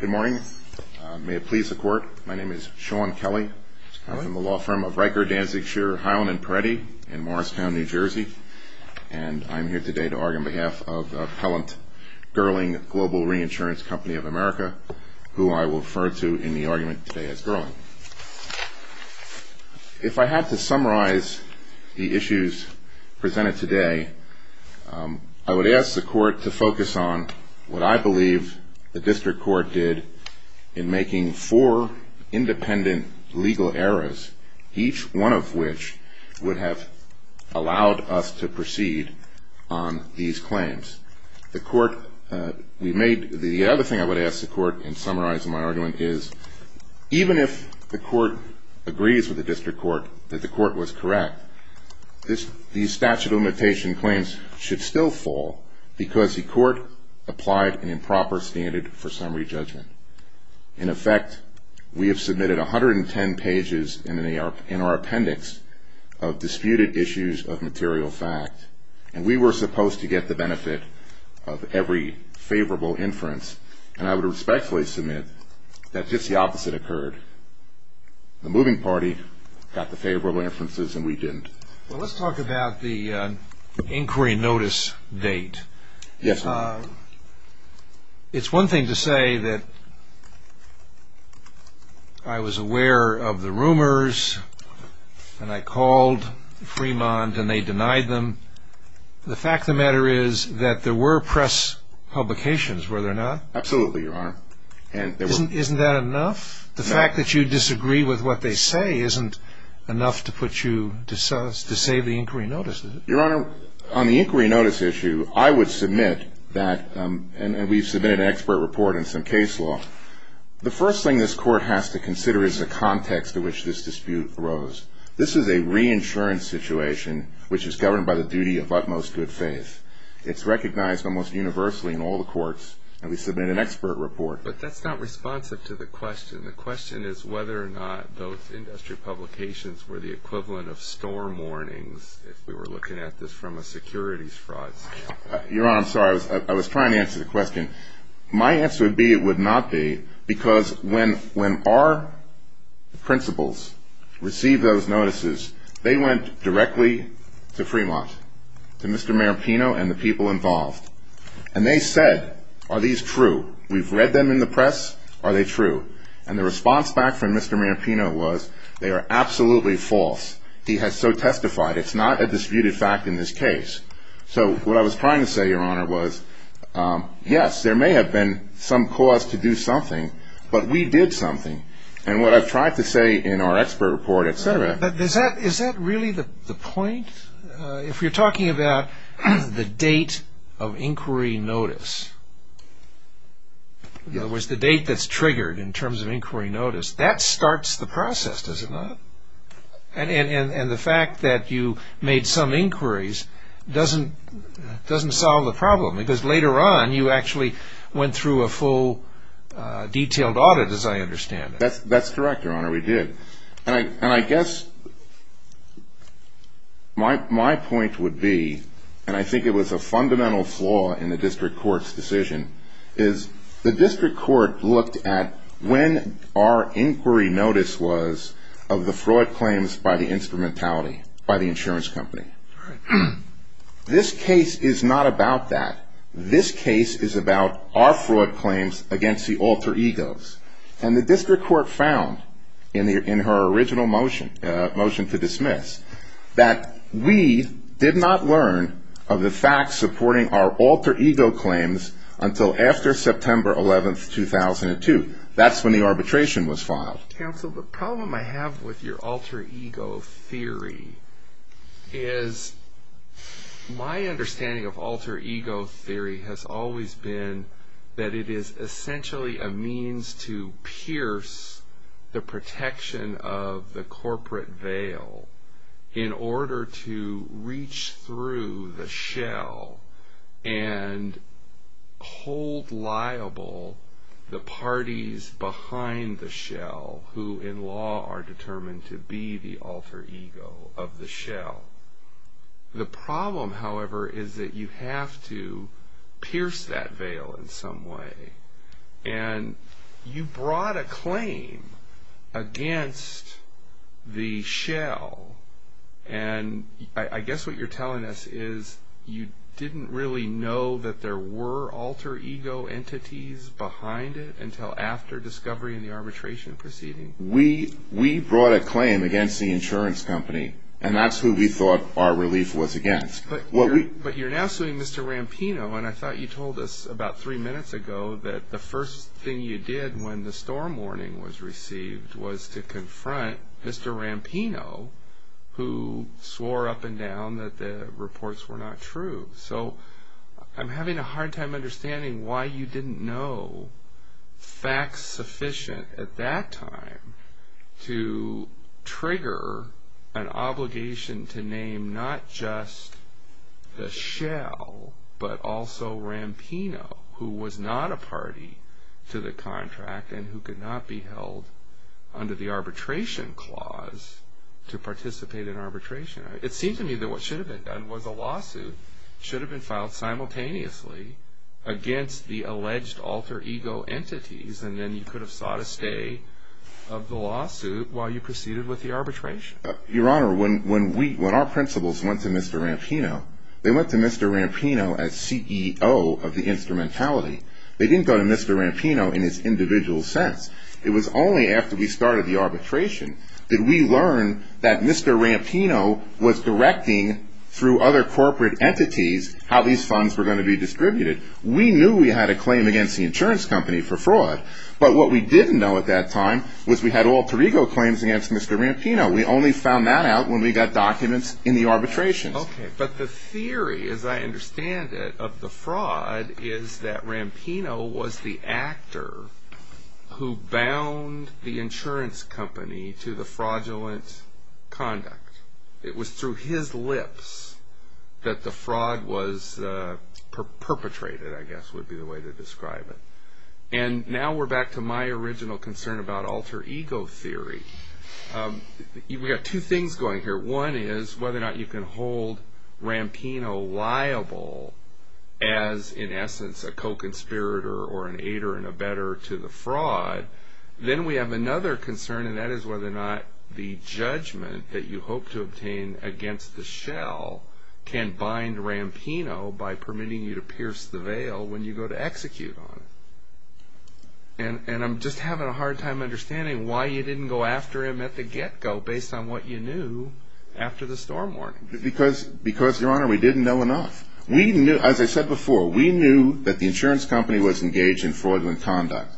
Good morning. May it please the Court, my name is Sean Kelly. I'm from the law firm of Riker, Danzig, Shearer, Highland and Peretti in Morristown, New Jersey. And I'm here today to argue on behalf of the appellant Gerling Global Reinsurance Company of America, who I will refer to in the argument today as Gerling. If I had to summarize the issues presented today, I would ask the Court to focus on what I believe the district court did in making four independent legal errors, each one of which would have allowed us to proceed on these claims. The other thing I would ask the Court in summarizing my argument is, even if the Court agrees with the district court that the Court was correct, these statute of limitation claims should still fall because the Court applied an improper standard for summary judgment. In effect, we have submitted 110 pages in our appendix of disputed issues of material fact, and we were supposed to get the benefit of every favorable inference. And I would respectfully submit that just the opposite occurred. The moving party got the favorable inferences and we didn't. Well, let's talk about the inquiry notice date. Yes, Your Honor. It's one thing to say that I was aware of the rumors and I called Fremont and they denied them. The fact of the matter is that there were press publications, were there not? Absolutely, Your Honor. Isn't that enough? The fact that you disagree with what they say isn't enough to put you to save the inquiry notice, is it? Your Honor, on the inquiry notice issue, I would submit that, and we've submitted an expert report and some case law, the first thing this Court has to consider is the context in which this dispute arose. This is a reinsurance situation which is governed by the duty of utmost good faith. It's recognized almost universally in all the courts, and we submit an expert report. But that's not responsive to the question. The question is whether or not those industry publications were the equivalent of storm warnings, if we were looking at this from a securities fraud standpoint. Your Honor, I'm sorry, I was trying to answer the question. My answer would be it would not be, because when our principals received those notices, they went directly to Fremont, to Mr. Maripino and the people involved. And they said, are these true? We've read them in the press. Are they true? And the response back from Mr. Maripino was, they are absolutely false. He has so testified. It's not a disputed fact in this case. So what I was trying to say, Your Honor, was, yes, there may have been some cause to do something, but we did something. And what I've tried to say in our expert report, etc. But is that really the point? If you're talking about the date of inquiry notice, in other words, the date that's triggered in terms of inquiry notice, that starts the process, does it not? And the fact that you made some inquiries doesn't solve the problem, because later on you actually went through a full detailed audit, as I understand it. That's correct, Your Honor, we did. And I guess my point would be, and I think it was a fundamental flaw in the district court's decision, is the district court looked at when our inquiry notice was of the fraud claims by the instrumentality, by the insurance company. This case is not about that. This case is about our fraud claims against the alter egos. And the district court found, in her original motion to dismiss, that we did not learn of the facts supporting our alter ego claims until after September 11, 2002. That's when the arbitration was filed. Counsel, the problem I have with your alter ego theory is, my understanding of alter ego theory has always been that it is essentially a means to pierce the protection of the corporate veil in order to reach through the shell and hold liable the parties behind the shell, who in law are determined to be the alter ego of the shell. The problem, however, is that you have to pierce that veil in some way. And you brought a claim against the shell. And I guess what you're telling us is you didn't really know that there were alter ego entities behind it until after discovering the arbitration proceeding. We brought a claim against the insurance company. And that's who we thought our relief was against. But you're now suing Mr. Rampino. And I thought you told us about three minutes ago that the first thing you did when the storm warning was received was to confront Mr. Rampino, who swore up and down that the reports were not true. So I'm having a hard time understanding why you didn't know facts sufficient at that time to trigger an obligation to name not just the shell, but also Rampino, who was not a party to the contract and who could not be held under the arbitration clause to participate in arbitration. It seems to me that what should have been done was a lawsuit should have been filed simultaneously against the alleged alter ego entities. And then you could have sought a stay of the lawsuit while you proceeded with the arbitration. Your Honor, when our principals went to Mr. Rampino, they went to Mr. Rampino as CEO of the instrumentality. They didn't go to Mr. Rampino in his individual sense. It was only after we started the arbitration that we learned that Mr. Rampino was directing, through other corporate entities, how these funds were going to be distributed. We knew we had a claim against the insurance company for fraud, but what we didn't know at that time was we had alter ego claims against Mr. Rampino. We only found that out when we got documents in the arbitration. Okay, but the theory, as I understand it, of the fraud is that Rampino was the actor who bound the insurance company to the fraudulent conduct. It was through his lips that the fraud was perpetrated, I guess would be the way to describe it. And now we're back to my original concern about alter ego theory. We've got two things going here. One is whether or not you can hold Rampino liable as, in essence, a co-conspirator or an aider and abetter to the fraud. Then we have another concern, and that is whether or not the judgment that you hope to obtain against the shell can bind Rampino by permitting you to pierce the veil when you go to execute on it. And I'm just having a hard time understanding why you didn't go after him at the get-go based on what you knew after the storm warning. Because, Your Honor, we didn't know enough. As I said before, we knew that the insurance company was engaged in fraudulent conduct.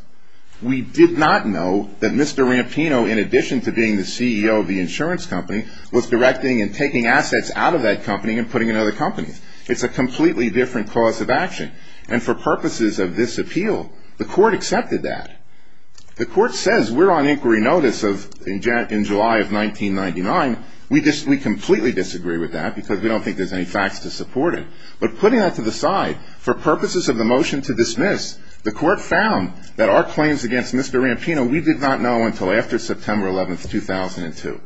We did not know that Mr. Rampino, in addition to being the CEO of the insurance company, was directing and taking assets out of that company and putting in other companies. It's a completely different cause of action. And for purposes of this appeal, the court accepted that. The court says we're on inquiry notice in July of 1999. We completely disagree with that because we don't think there's any facts to support it. But putting that to the side, for purposes of the motion to dismiss, the court found that our claims against Mr. Rampino, we did not know until after September 11, 2002.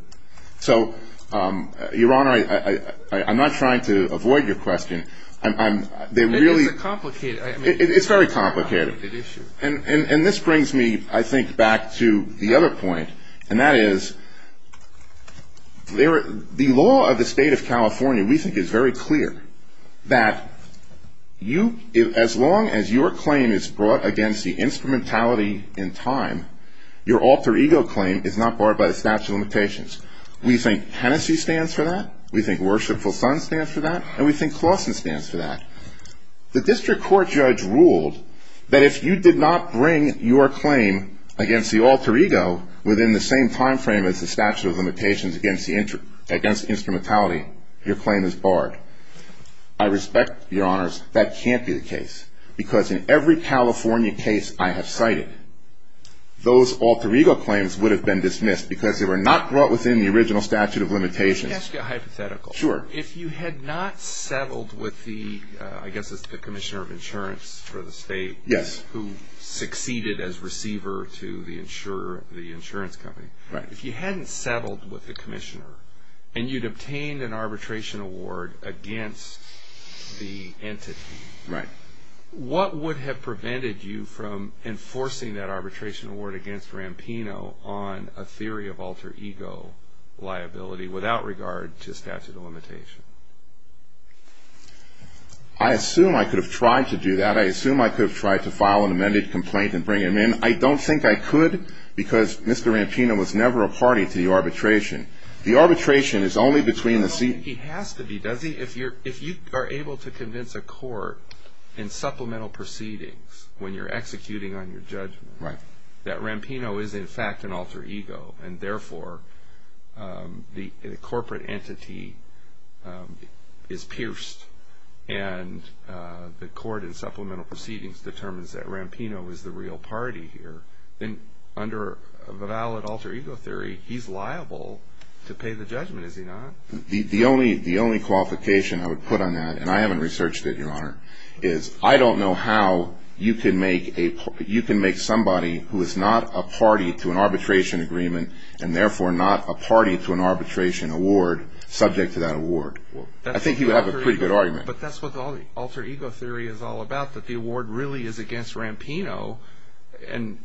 So, Your Honor, I'm not trying to avoid your question. It's very complicated. And this brings me, I think, back to the other point. And that is, the law of the State of California, we think, is very clear. That you, as long as your claim is brought against the instrumentality in time, your alter ego claim is not barred by the statute of limitations. We think Hennessey stands for that. We think Worshipful Son stands for that. And we think Clawson stands for that. The district court judge ruled that if you did not bring your claim against the alter ego within the same time frame as the statute of limitations against instrumentality, your claim is barred. I respect, Your Honors, that can't be the case. Because in every California case I have cited, those alter ego claims would have been dismissed because they were not brought within the original statute of limitations. Let me ask you a hypothetical. Sure. If you had not settled with the, I guess it's the Commissioner of Insurance for the State. Yes. Who succeeded as receiver to the insurance company. Right. If you hadn't settled with the Commissioner, and you'd obtained an arbitration award against the entity. Right. What would have prevented you from enforcing that arbitration award against Rampino on a theory of alter ego liability without regard to statute of limitations? I assume I could have tried to do that. I assume I could have tried to file an amended complaint and bring him in. I don't think I could because Mr. Rampino was never a party to the arbitration. The arbitration is only between the seat. He has to be. Does he? If you are able to convince a court in supplemental proceedings when you're executing on your judgment. Right. That Rampino is in fact an alter ego. And therefore, the corporate entity is pierced. And the court in supplemental proceedings determines that Rampino is the real party here. Then under a valid alter ego theory, he's liable to pay the judgment, is he not? The only qualification I would put on that, and I haven't researched it, Your Honor, is I don't know how you can make somebody who is not a party to an arbitration agreement and therefore not a party to an arbitration award subject to that award. I think you have a pretty good argument. But that's what the alter ego theory is all about, that the award really is against Rampino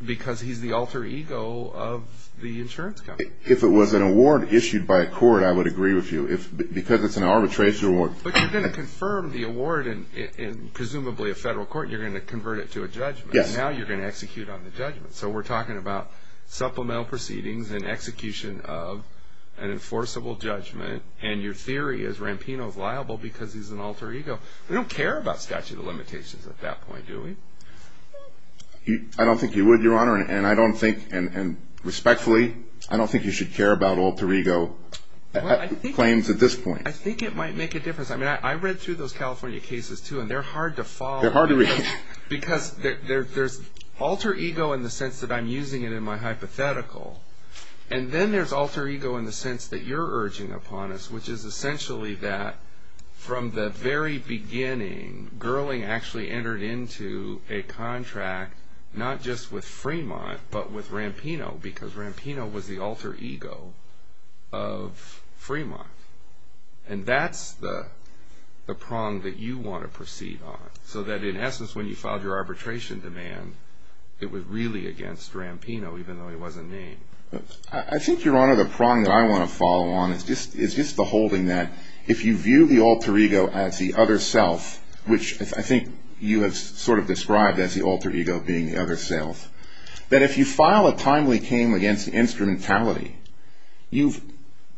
because he's the alter ego of the insurance company. If it was an award issued by a court, I would agree with you. Because it's an arbitration award. But you're going to confirm the award in presumably a federal court and you're going to convert it to a judgment. Yes. Now you're going to execute on the judgment. So we're talking about supplemental proceedings and execution of an enforceable judgment and your theory is Rampino is liable because he's an alter ego. We don't care about statute of limitations at that point, do we? I don't think you would, Your Honor. And I don't think, and respectfully, I don't think you should care about alter ego claims at this point. I think it might make a difference. I mean, I read through those California cases, too, and they're hard to follow. They're hard to read. Because there's alter ego in the sense that I'm using it in my hypothetical. And then there's alter ego in the sense that you're urging upon us, which is essentially that from the very beginning, Gerling actually entered into a contract not just with Fremont but with Rampino because Rampino was the alter ego of Fremont. And that's the prong that you want to proceed on, so that in essence when you filed your arbitration demand, it was really against Rampino even though he wasn't named. I think, Your Honor, the prong that I want to follow on is just the holding that if you view the alter ego as the other self, which I think you have sort of described as the alter ego being the other self, that if you file a timely claim against the instrumentality, you've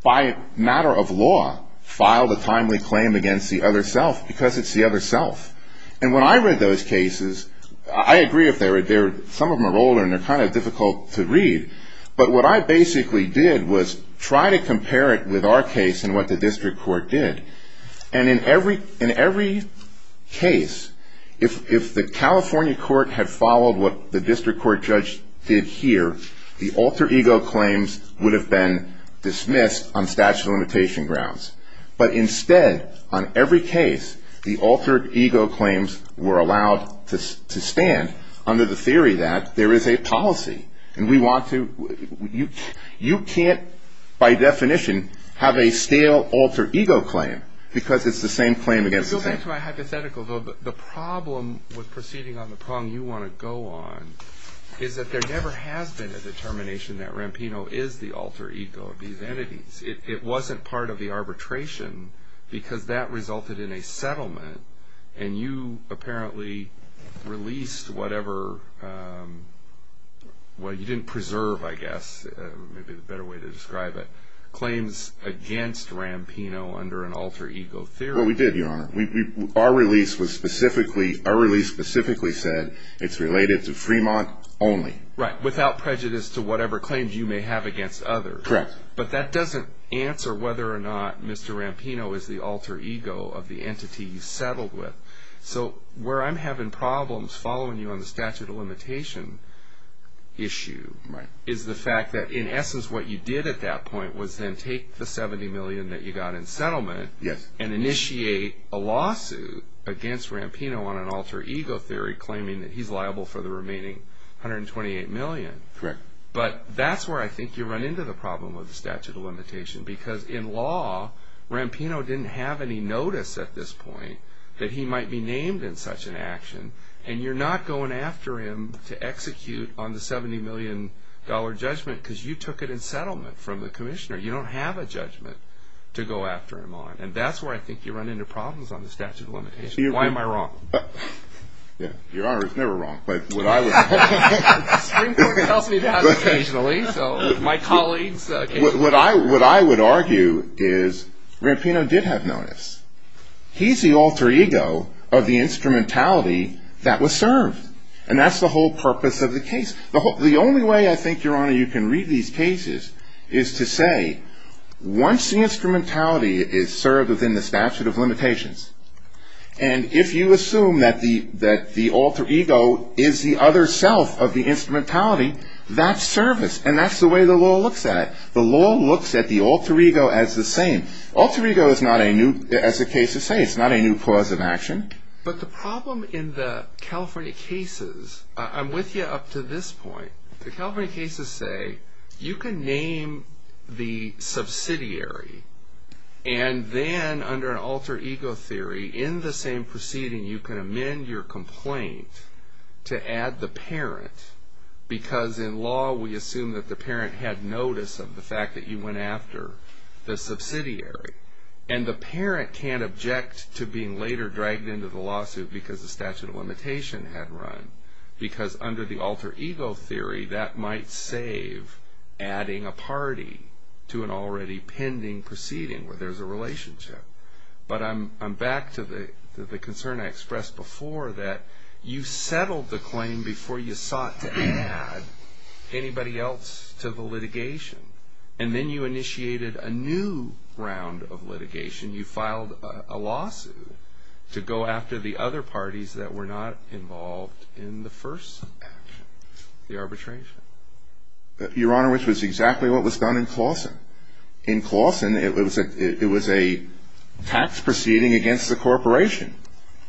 by matter of law filed a timely claim against the other self because it's the other self. And when I read those cases, I agree some of them are older and they're kind of difficult to read, but what I basically did was try to compare it with our case and what the district court did. And in every case, if the California court had followed what the district court judge did here, the alter ego claims would have been dismissed on statute of limitation grounds. But instead, on every case, the altered ego claims were allowed to stand under the theory that there is a policy. And we want to you can't by definition have a stale alter ego claim because it's the same claim against the same person. To my hypothetical, the problem with proceeding on the prong you want to go on is that there never has been a determination that Rampino is the alter ego of these entities. It wasn't part of the arbitration because that resulted in a settlement and you apparently released whatever, well, you didn't preserve, I guess, maybe a better way to describe it, claims against Rampino under an alter ego theory. Well, we did, Your Honor. Our release specifically said it's related to Fremont only. Right, without prejudice to whatever claims you may have against others. Correct. But that doesn't answer whether or not Mr. Rampino is the alter ego of the entity you settled with. So where I'm having problems following you on the statute of limitation issue is the fact that in essence what you did at that point was then take the $70 million that you got in settlement and initiate a lawsuit against Rampino on an alter ego theory claiming that he's liable for the remaining $128 million. Correct. But that's where I think you run into the problem with the statute of limitation because in law Rampino didn't have any notice at this point that he might be named in such an action and you're not going after him to execute on the $70 million judgment because you took it in settlement from the commissioner. You don't have a judgment to go after him on. And that's where I think you run into problems on the statute of limitation. Why am I wrong? Your Honor, it's never wrong. But what I would argue is Rampino did have notice. He's the alter ego of the instrumentality that was served. And that's the whole purpose of the case. The only way I think, Your Honor, you can read these cases is to say once the instrumentality is served within the statute of limitations and if you assume that the alter ego is the other self of the instrumentality, that's service and that's the way the law looks at it. The law looks at the alter ego as the same. Alter ego is not a new, as the cases say, it's not a new cause of action. But the problem in the California cases, I'm with you up to this point. The California cases say you can name the subsidiary and then under an alter ego theory in the same proceeding you can amend your complaint to add the parent because in law we assume that the parent had notice of the fact that you went after the subsidiary. And the parent can't object to being later dragged into the lawsuit because the statute of limitation had run. Because under the alter ego theory that might save adding a party to an already pending proceeding where there's a relationship. But I'm back to the concern I expressed before that you settled the claim before you sought to add anybody else to the litigation. And then you initiated a new round of litigation. You filed a lawsuit to go after the other parties that were not involved in the first action, the arbitration. Your Honor, which was exactly what was done in Clawson. In Clawson it was a tax proceeding against the corporation.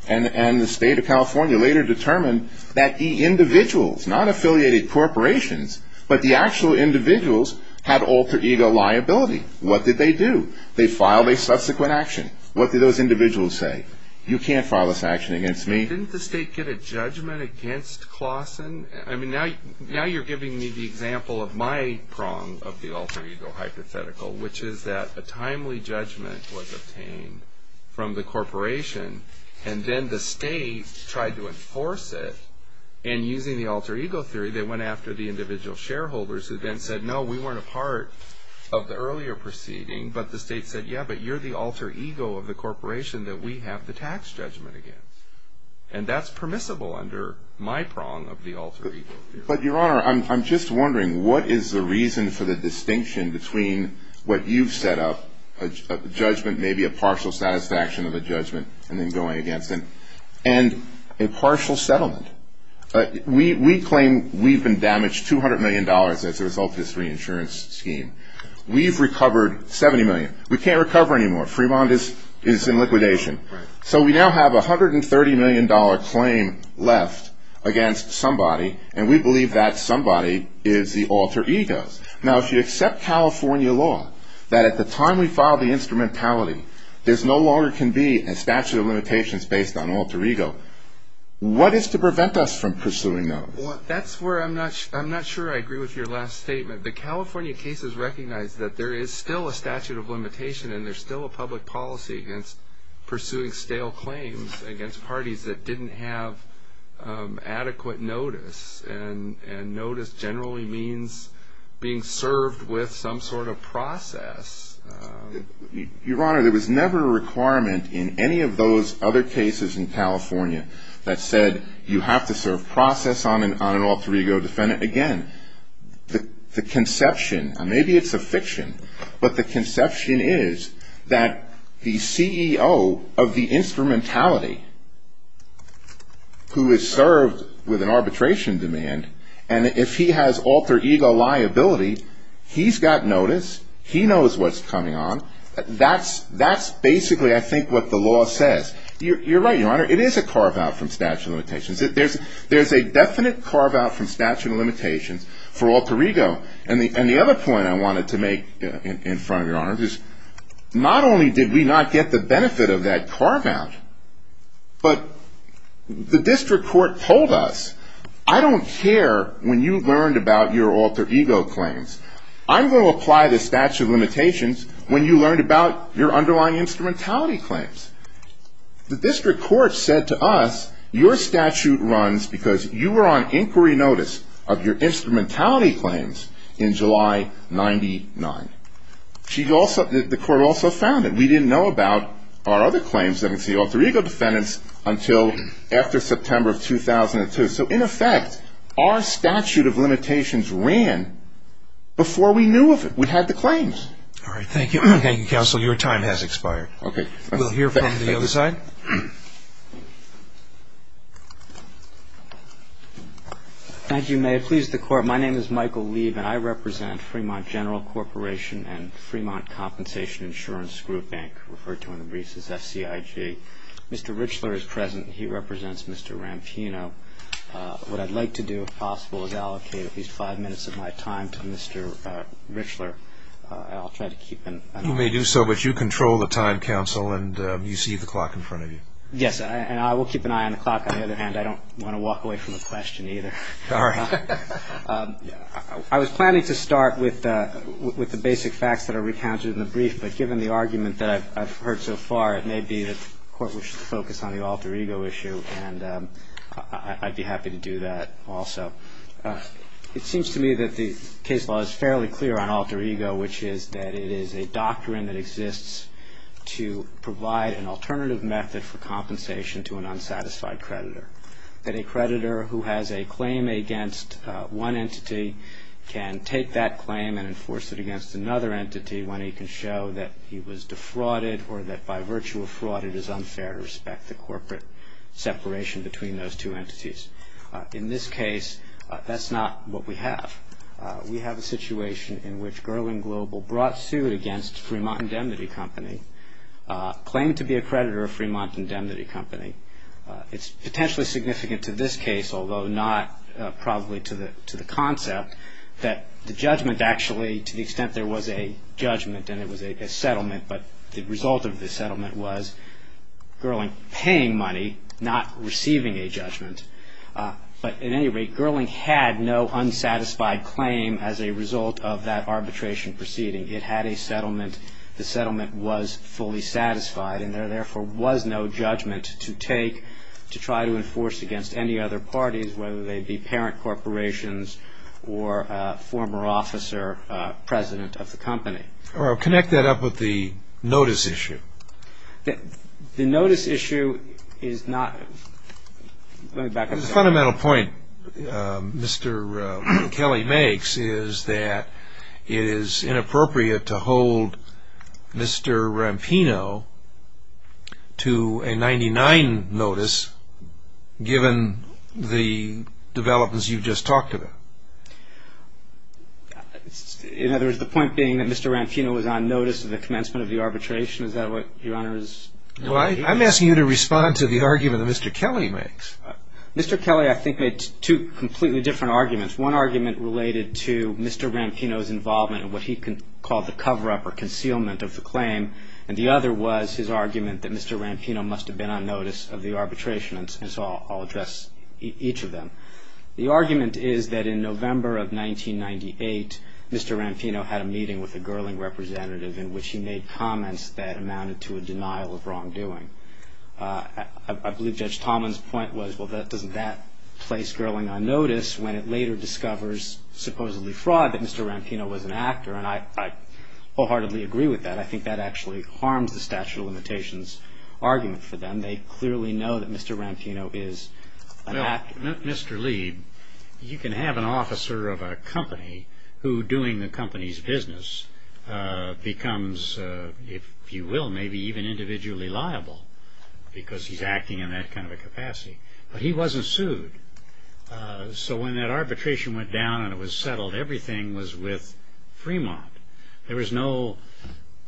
And the state of California later determined that the individuals, not affiliated corporations, but the actual individuals had alter ego liability. What did they do? They filed a subsequent action. What did those individuals say? You can't file this action against me. Didn't the state get a judgment against Clawson? Now you're giving me the example of my prong of the alter ego hypothetical which is that a timely judgment was obtained from the corporation and then the state tried to enforce it. And using the alter ego theory, they went after the individual shareholders who then said, no, we weren't a part of the earlier proceeding. But the state said, yeah, but you're the alter ego of the corporation that we have the tax judgment against. And that's permissible under my prong of the alter ego theory. But, Your Honor, I'm just wondering, what is the reason for the distinction between what you've set up, maybe a partial satisfaction of a judgment and then going against it, and a partial settlement? We claim we've been damaged $200 million as a result of this reinsurance scheme. We've recovered $70 million. We can't recover anymore. Fremont is in liquidation. So we now have a $130 million claim left against somebody, and we believe that somebody is the alter ego. Now, if you accept California law, that at the time we filed the instrumentality, there no longer can be a statute of limitations based on alter ego, what is to prevent us from pursuing those? Well, that's where I'm not sure I agree with your last statement. But California cases recognize that there is still a statute of limitation and there's still a public policy against pursuing stale claims against parties that didn't have adequate notice. And notice generally means being served with some sort of process. Your Honor, there was never a requirement in any of those other cases in California that said you have to serve process on an alter ego defendant. Again, the conception, and maybe it's a fiction, but the conception is that the CEO of the instrumentality who is served with an arbitration demand, and if he has alter ego liability, he's got notice, he knows what's coming on. That's basically, I think, what the law says. You're right, Your Honor, it is a carve out from statute of limitations. There's a definite carve out from statute of limitations for alter ego. And the other point I wanted to make in front of Your Honor is not only did we not get the benefit of that carve out, but the district court told us, I don't care when you learned about your alter ego claims. I'm going to apply the statute of limitations when you learned about your underlying instrumentality claims. The district court said to us, your statute runs because you were on inquiry notice of your instrumentality claims in July 99. The court also found that we didn't know about our other claims against the alter ego defendants until after September of 2002. So, in effect, our statute of limitations ran before we knew of it. We had the claims. All right, thank you. Thank you, counsel. Your time has expired. Okay. We'll hear from the other side. If you may, please, the court. My name is Michael Leib, and I represent Fremont General Corporation and Fremont Compensation Insurance Group Bank, referred to in the briefs as FCIG. Mr. Richler is present. He represents Mr. Rampino. What I'd like to do, if possible, is allocate at least five minutes of my time to Mr. Richler. I'll try to keep an eye on him. You may do so, but you control the time, counsel, and you see the clock in front of you. Yes, and I will keep an eye on the clock. On the other hand, I don't want to walk away from the question either. All right. I was planning to start with the basic facts that are recounted in the brief, but given the argument that I've heard so far, it may be that the court wishes to focus on the alter ego issue, and I'd be happy to do that also. It seems to me that the case law is fairly clear on alter ego, which is that it is a doctrine that exists to provide an alternative method for compensation to an unsatisfied creditor, that a creditor who has a claim against one entity can take that claim and enforce it against another entity when he can show that he was defrauded or that by virtue of fraud it is unfair to respect the corporate separation between those two entities. In this case, that's not what we have. We have a situation in which Gerling Global brought suit against Fremont Indemnity Company, claimed to be a creditor of Fremont Indemnity Company. It's potentially significant to this case, although not probably to the concept, that the judgment actually, to the extent there was a judgment and it was a settlement, but the result of the settlement was Gerling paying money, not receiving a judgment. But at any rate, Gerling had no unsatisfied claim as a result of that arbitration proceeding. It had a settlement. The settlement was fully satisfied and there, therefore, was no judgment to take to try to enforce against any other parties, whether they be parent corporations or a former officer president of the company. I'll connect that up with the notice issue. The notice issue is not – let me back up. The fundamental point Mr. Kelly makes is that it is inappropriate to hold Mr. Rampino to a 99 notice, given the developments you've just talked about. In other words, the point being that Mr. Rampino was on notice of the commencement of the arbitration? I'm asking you to respond to the argument that Mr. Kelly makes. Mr. Kelly, I think, made two completely different arguments. One argument related to Mr. Rampino's involvement in what he called the cover-up or concealment of the claim, and the other was his argument that Mr. Rampino must have been on notice of the arbitration. I'll address each of them. The argument is that in November of 1998, Mr. Rampino had a meeting with a Gerling representative in which he made comments that amounted to a denial of wrongdoing. I believe Judge Talman's point was, well, doesn't that place Gerling on notice when it later discovers, supposedly fraud, that Mr. Rampino was an actor? And I wholeheartedly agree with that. I think that actually harms the statute of limitations argument for them. They clearly know that Mr. Rampino is an actor. Mr. Lee, you can have an officer of a company who, doing the company's business, becomes, if you will, maybe even individually liable because he's acting in that kind of a capacity, but he wasn't sued. So when that arbitration went down and it was settled, everything was with Fremont. There was no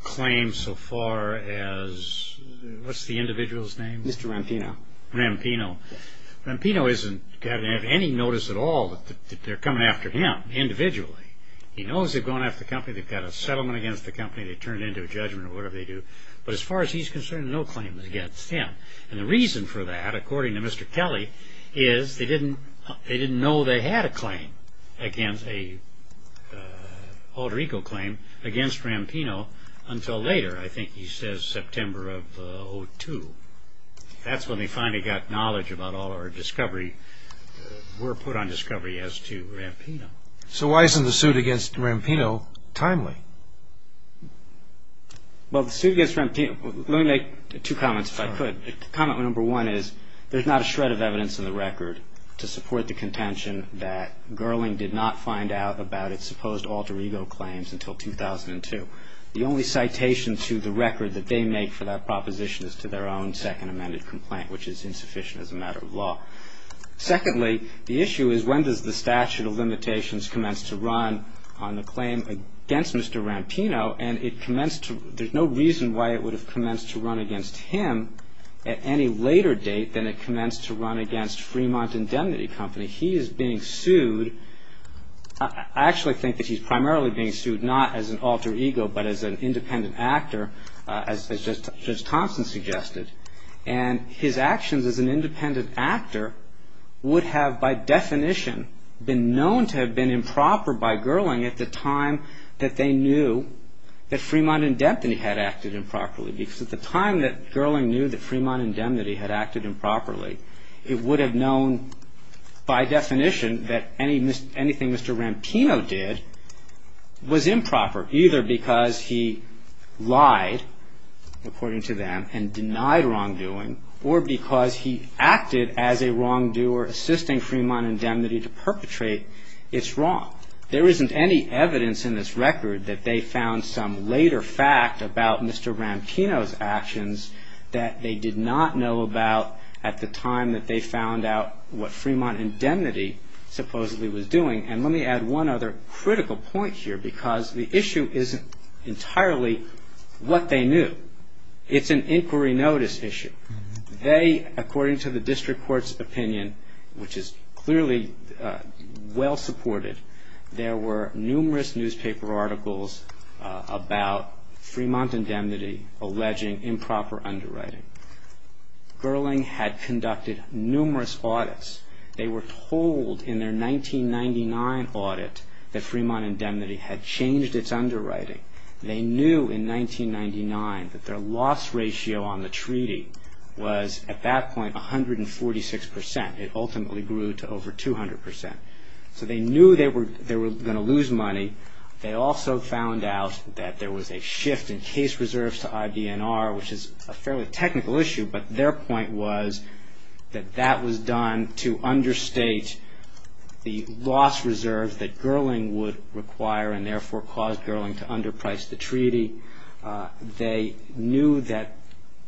claim so far as, what's the individual's name? Mr. Rampino. Rampino. Rampino doesn't have any notice at all that they're coming after him, individually. He knows they've gone after the company, they've got a settlement against the company, they've turned it into a judgment or whatever they do. But as far as he's concerned, no claim against him. And the reason for that, according to Mr. Kelly, is they didn't know they had a claim against, an alter ego claim against Rampino until later. I think he says September of 2002. That's when they finally got knowledge about all our discovery, were put on discovery as to Rampino. So why isn't the suit against Rampino timely? Well, the suit against Rampino, let me make two comments, if I could. Comment number one is, there's not a shred of evidence in the record to support the contention that Gerling did not find out about its supposed alter ego claims until 2002. The only citation to the record that they make for that proposition is to their own second amended complaint, which is insufficient as a matter of law. Secondly, the issue is when does the statute of limitations commence to run on the claim against Mr. Rampino? And it commenced to, there's no reason why it would have commenced to run against him at any later date than it commenced to run against Fremont Indemnity Company. He is being sued, I actually think that he's primarily being sued not as an alter ego, but as an independent actor, as Judge Thompson suggested. And his actions as an independent actor would have by definition been known to have been improper by Gerling at the time that they knew that Fremont Indemnity had acted improperly. Because at the time that Gerling knew that Fremont Indemnity had acted improperly, it would have known by definition that anything Mr. Rampino did was improper, either because he lied, according to them, and denied wrongdoing, or because he acted as a wrongdoer assisting Fremont Indemnity to perpetrate its wrong. There isn't any evidence in this record that they found some later fact about Mr. Rampino's actions that they did not know about at the time that they found out what Fremont Indemnity supposedly was doing. And let me add one other critical point here, because the issue isn't entirely what they knew. It's an inquiry notice issue. They, according to the district court's opinion, which is clearly well supported, there were numerous newspaper articles about Fremont Indemnity alleging improper underwriting. Gerling had conducted numerous audits. They were told in their 1999 audit that Fremont Indemnity had changed its underwriting. They knew in 1999 that their loss ratio on the treaty was at that point 146 percent. It ultimately grew to over 200 percent. So they knew they were going to lose money. They also found out that there was a shift in case reserves to IBNR, which is a fairly technical issue, but their point was that that was done to understate the loss reserves that Gerling would require and therefore cause Gerling to underprice the treaty. They knew that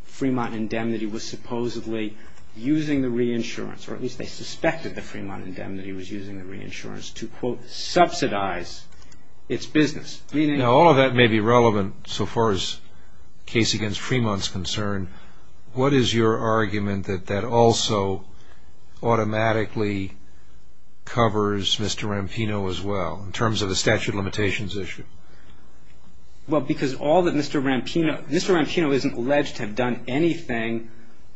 Fremont Indemnity was supposedly using the reinsurance, or at least they suspected that Fremont Indemnity was using the reinsurance to, quote, subsidize its business. Now, all of that may be relevant so far as the case against Fremont is concerned. What is your argument that that also automatically covers Mr. Rampino as well, in terms of the statute of limitations issue? Well, because all that Mr. Rampino – Mr. Rampino isn't alleged to have done anything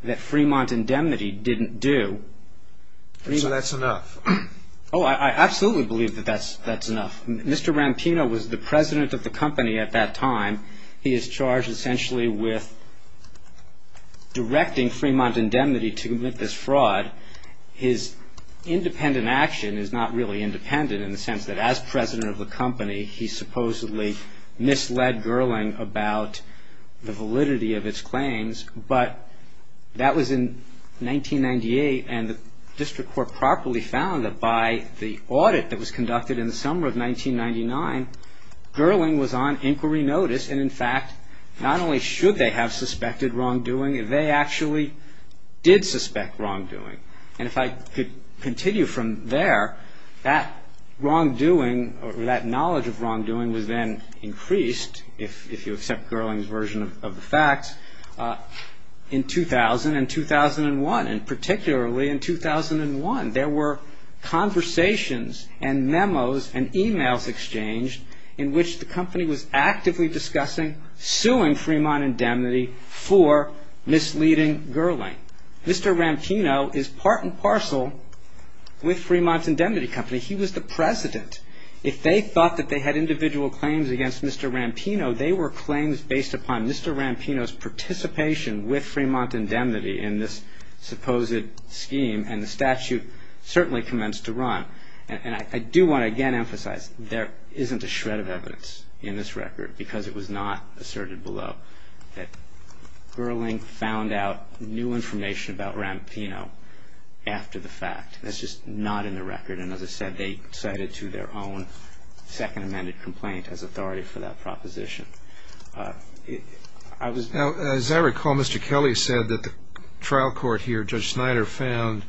that Fremont Indemnity didn't do. So that's enough? Oh, I absolutely believe that that's enough. Mr. Rampino was the president of the company at that time. He is charged essentially with directing Fremont Indemnity to commit this fraud. His independent action is not really independent in the sense that as president of the company, he supposedly misled Gerling about the validity of its claims. But that was in 1998, and the district court properly found that by the audit that was conducted in the summer of 1999, Gerling was on inquiry notice, and in fact, not only should they have suspected wrongdoing, they actually did suspect wrongdoing. And if I could continue from there, that wrongdoing or that knowledge of wrongdoing was then increased, if you accept Gerling's version of the facts, in 2000 and 2001, and particularly in 2001. There were conversations and memos and emails exchanged in which the company was actively discussing killing Fremont Indemnity for misleading Gerling. Mr. Rampino is part and parcel with Fremont's Indemnity Company. He was the president. If they thought that they had individual claims against Mr. Rampino, they were claims based upon Mr. Rampino's participation with Fremont Indemnity in this supposed scheme, and the statute certainly commenced to run. And I do want to again emphasize there isn't a shred of evidence in this record because it was not asserted below that Gerling found out new information about Rampino after the fact. That's just not in the record, and as I said, they cited to their own second amended complaint as authority for that proposition. As I recall, Mr. Kelly said that the trial court here, Judge Snyder, found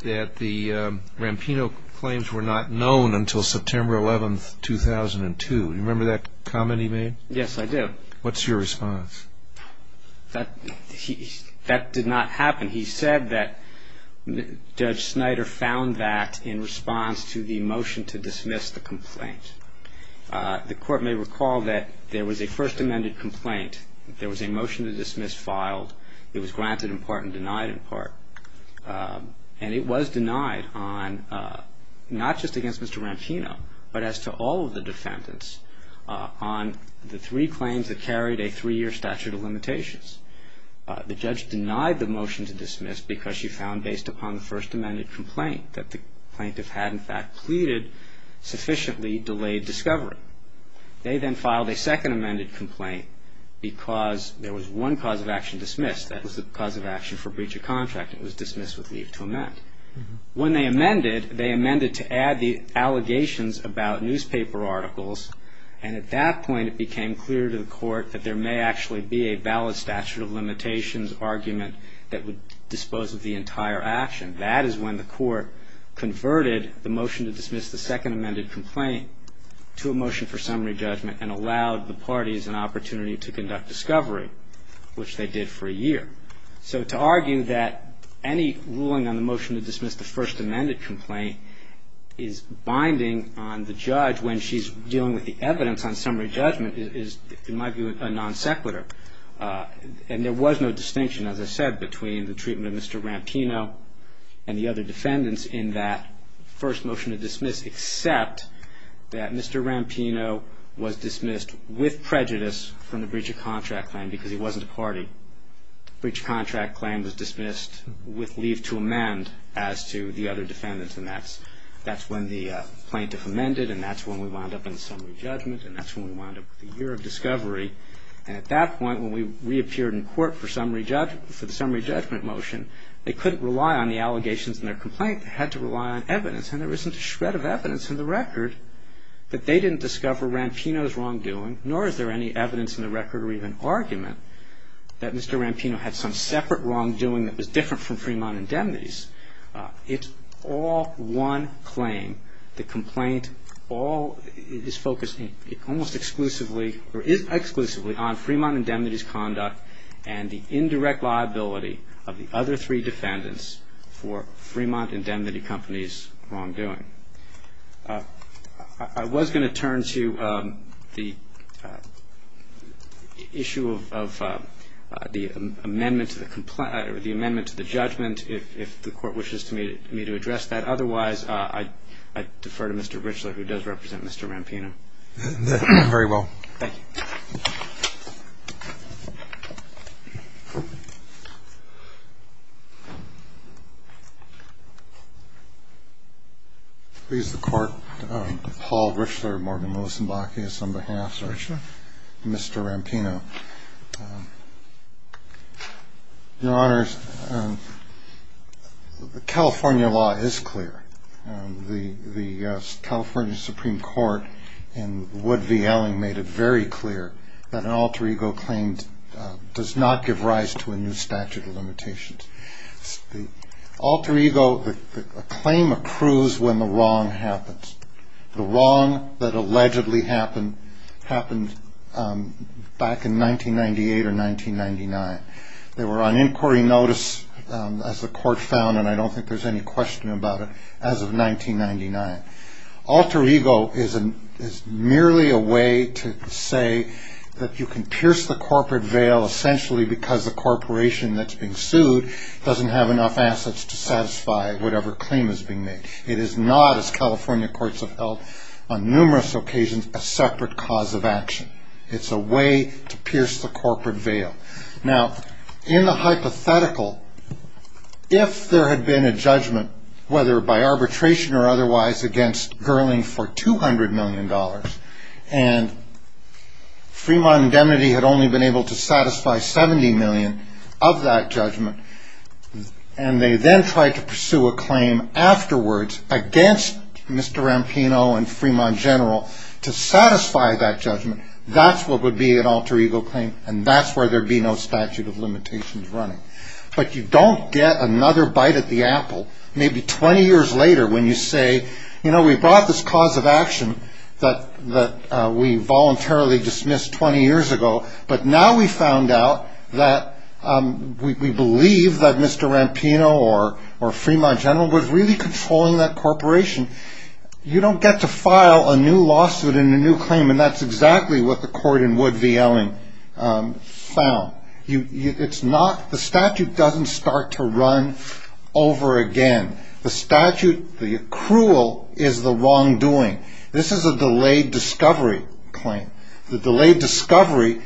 that the Rampino claims were not known until September 11, 2002. Do you remember that comment he made? Yes, I do. What's your response? That did not happen. He said that Judge Snyder found that in response to the motion to dismiss the complaint. The court may recall that there was a first amended complaint. There was a motion to dismiss filed. It was granted in part and denied in part, and it was denied on not just against Mr. Rampino, but as to all of the defendants on the three claims that carried a three-year statute of limitations. The judge denied the motion to dismiss because she found based upon the first amended complaint that the plaintiff had in fact pleaded sufficiently delayed discovery. They then filed a second amended complaint because there was one cause of action dismissed. That was the cause of action for breach of contract. It was dismissed with leave to amend. When they amended, they amended to add the allegations about newspaper articles, and at that point it became clear to the court that there may actually be a valid statute of limitations argument that would dispose of the entire action. That is when the court converted the motion to dismiss the second amended complaint to a motion for summary judgment and allowed the parties an opportunity to conduct discovery, which they did for a year. So to argue that any ruling on the motion to dismiss the first amended complaint is binding on the judge when she's dealing with the evidence on summary judgment is, in my view, a non sequitur. And there was no distinction, as I said, between the treatment of Mr. Rampino and the other defendants in that first motion to dismiss except that Mr. Rampino was dismissed with prejudice from the breach of contract claim because he wasn't a party. Breach of contract claim was dismissed with leave to amend as to the other defendants, and that's when the plaintiff amended, and that's when we wound up in summary judgment, and that's when we wound up with a year of discovery. And at that point, when we reappeared in court for the summary judgment motion, they couldn't rely on the allegations in their complaint. They had to rely on evidence, and there isn't a shred of evidence in the record that they didn't discover Rampino's wrongdoing, nor is there any evidence in the record or even argument that Mr. Rampino had some separate wrongdoing that was different from Fremont Indemnity's. It's all one claim. The complaint all is focusing almost exclusively or is exclusively on Fremont Indemnity's conduct and the indirect liability of the other three defendants for Fremont Indemnity Company's wrongdoing. I was going to turn to the issue of the amendment to the judgment, if the Court wishes me to address that. Otherwise, I defer to Mr. Richler, who does represent Mr. Rampino. Very well. Thank you. Please, the Court. Paul Richler, Morgan Millicent Bacchius on behalf of Mr. Rampino. Your Honors, the California law is clear. The California Supreme Court in Wood v. Elling made it very clear that an alter ego claim does not give rise to a new statute of limitations. Alter ego, a claim accrues when the wrong happens. The wrong that allegedly happened happened back in 1998 or 1999. They were on inquiry notice, as the Court found, and I don't think there's any question about it, as of 1999. Alter ego is merely a way to say that you can pierce the corporate veil, essentially because the corporation that's being sued doesn't have enough assets to satisfy whatever claim is being made. It is not, as California courts have held on numerous occasions, a separate cause of action. It's a way to pierce the corporate veil. Now, in the hypothetical, if there had been a judgment, whether by arbitration or otherwise, against Gerling for $200 million, and Fremont Indemnity had only been able to satisfy $70 million of that judgment, and they then tried to pursue a claim afterwards against Mr. Rampino and Fremont General to satisfy that judgment, that's what would be an alter ego claim, and that's where there'd be no statute of limitations running. But you don't get another bite at the apple, maybe 20 years later, when you say, you know, we brought this cause of action that we voluntarily dismissed 20 years ago, but now we found out that we believe that Mr. Rampino or Fremont General was really controlling that corporation. You don't get to file a new lawsuit and a new claim, and that's exactly what the court in Wood v. Elling found. The statute doesn't start to run over again. The statute, the accrual, is the wrongdoing. This is a delayed discovery claim. The delayed discovery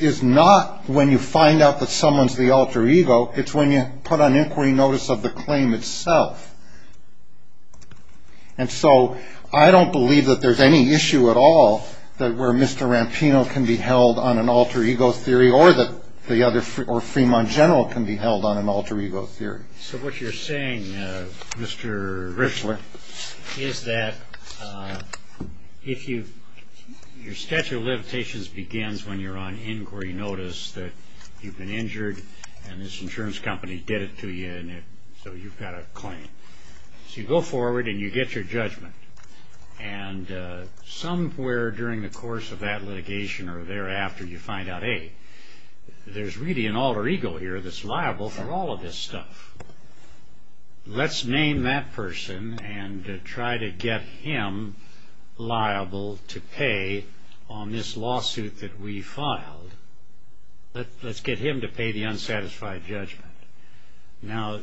is not when you find out that someone's the alter ego. It's when you put on inquiry notice of the claim itself. And so I don't believe that there's any issue at all where Mr. Rampino can be held on an alter ego theory or Fremont General can be held on an alter ego theory. So what you're saying, Mr. Riffler, is that your statute of limitations begins when you're on inquiry notice, that you've been injured, and this insurance company did it to you, and so you've got a claim. So you go forward and you get your judgment, and somewhere during the course of that litigation or thereafter you find out, hey, there's really an alter ego here that's liable for all of this stuff. Let's name that person and try to get him liable to pay on this lawsuit that we filed. Let's get him to pay the unsatisfied judgment. Now,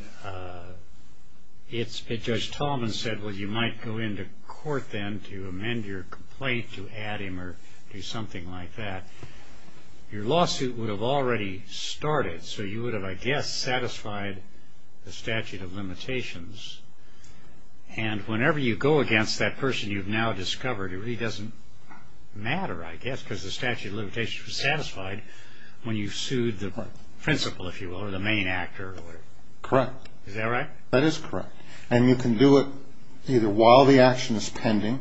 Judge Talman said, well, you might go into court then to amend your complaint, to add him or do something like that. Your lawsuit would have already started, so you would have, I guess, satisfied the statute of limitations. And whenever you go against that person you've now discovered, it really doesn't matter, I guess, because the statute of limitations was satisfied when you sued the principal, if you will, or the main actor. Correct. Is that right? That is correct. And you can do it either while the action is pending,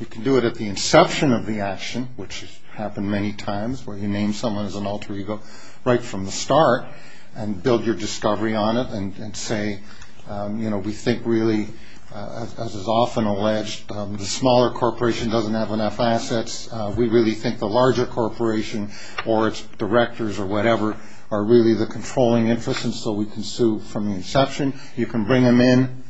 You can do it at the inception of the action, which has happened many times, where you name someone as an alter ego right from the start and build your discovery on it and say, you know, we think really, as is often alleged, the smaller corporation doesn't have enough assets. We really think the larger corporation or its directors or whatever are really the controlling interests, and so we can sue from the inception. You can bring them in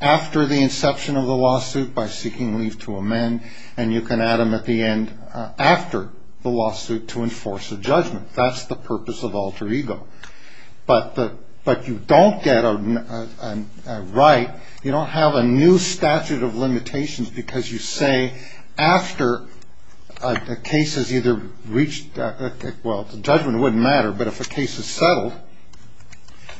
after the inception of the lawsuit by seeking leave to amend, and you can add them at the end after the lawsuit to enforce a judgment. That's the purpose of alter ego. But you don't get a right, you don't have a new statute of limitations, because you say after a case has either reached, well, the judgment wouldn't matter, but if a case is settled,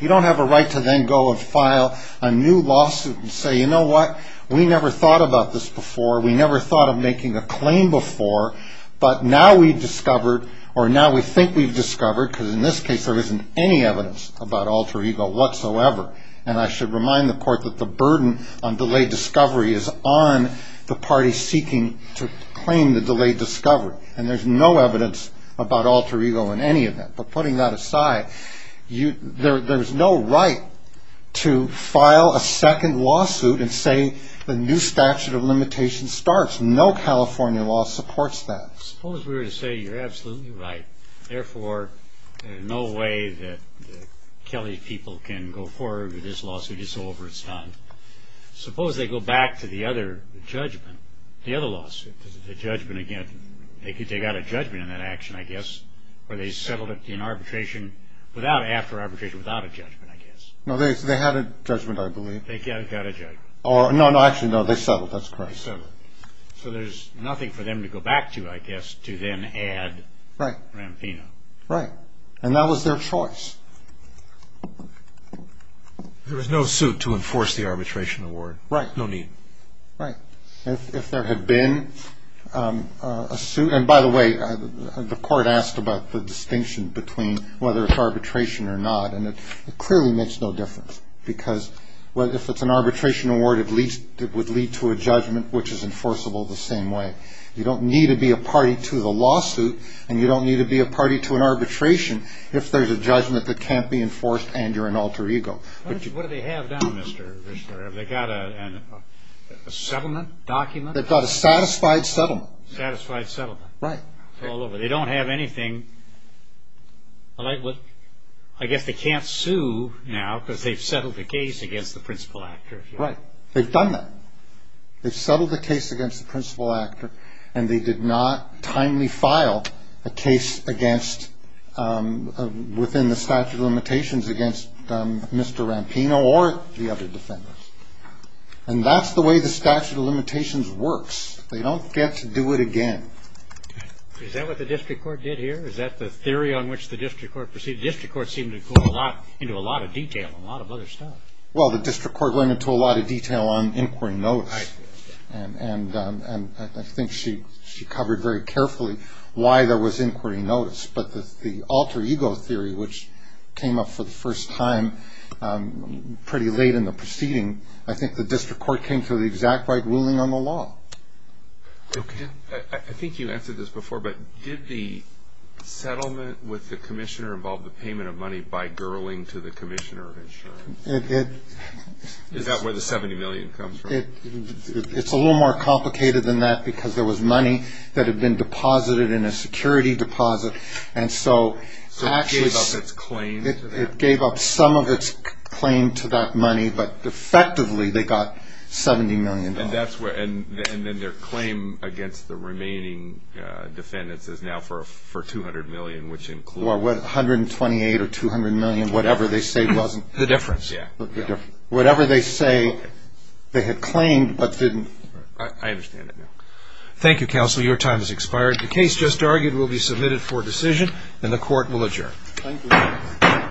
you don't have a right to then go and file a new lawsuit and say, you know what, we never thought about this before, we never thought of making a claim before, but now we've discovered, or now we think we've discovered, because in this case there isn't any evidence about alter ego whatsoever, and I should remind the court that the burden on delayed discovery is on the party seeking to claim the delayed discovery, and there's no evidence about alter ego in any event. But putting that aside, there's no right to file a second lawsuit and say the new statute of limitations starts. No California law supports that. Suppose we were to say you're absolutely right, therefore there's no way that the Kelly people can go forward with this lawsuit, it's over, it's done. Suppose they go back to the other judgment, the other lawsuit, the judgment again, they got a judgment on that action, I guess, or they settled it in arbitration without, after arbitration, without a judgment, I guess. No, they had a judgment, I believe. They got a judgment. No, actually, no, they settled, that's correct. They settled. So there's nothing for them to go back to, I guess, to then add Rampino. Right, and that was their choice. There was no suit to enforce the arbitration award. Right. No need. Right. If there had been a suit, and by the way, the court asked about the distinction between whether it's arbitration or not, and it clearly makes no difference because if it's an arbitration award, at least it would lead to a judgment which is enforceable the same way. You don't need to be a party to the lawsuit, and you don't need to be a party to an arbitration if there's a judgment that can't be enforced and you're an alter ego. What do they have now, Mr. Richter? Have they got a settlement document? They've got a satisfied settlement. Satisfied settlement. Right. It's all over. They don't have anything. I guess they can't sue now because they've settled the case against the principal actor. Right. They've done that. They've settled the case against the principal actor, and they did not timely file a case within the statute of limitations against Mr. Rampino or the other defendants. And that's the way the statute of limitations works. They don't get to do it again. Is that what the district court did here? Is that the theory on which the district court proceeded? The district court seemed to go into a lot of detail on a lot of other stuff. Well, the district court went into a lot of detail on inquiry notes. Right. And I think she covered very carefully why there was inquiry notice. But the alter ego theory, which came up for the first time pretty late in the proceeding, I think the district court came to the exact right ruling on the law. Okay. I think you answered this before, but did the settlement with the commissioner involve the payment of money by girling to the commissioner of insurance? It did. It's a little more complicated than that because there was money that had been deposited in a security deposit. So it gave up its claim to that? It gave up some of its claim to that money, but effectively they got $70 million. And then their claim against the remaining defendants is now for $200 million, which includes? $128 or $200 million, whatever they say was the difference. Yeah. Whatever they say they had claimed but didn't. I understand that now. Thank you, counsel. Your time has expired. The case just argued will be submitted for decision and the court will adjourn. Thank you.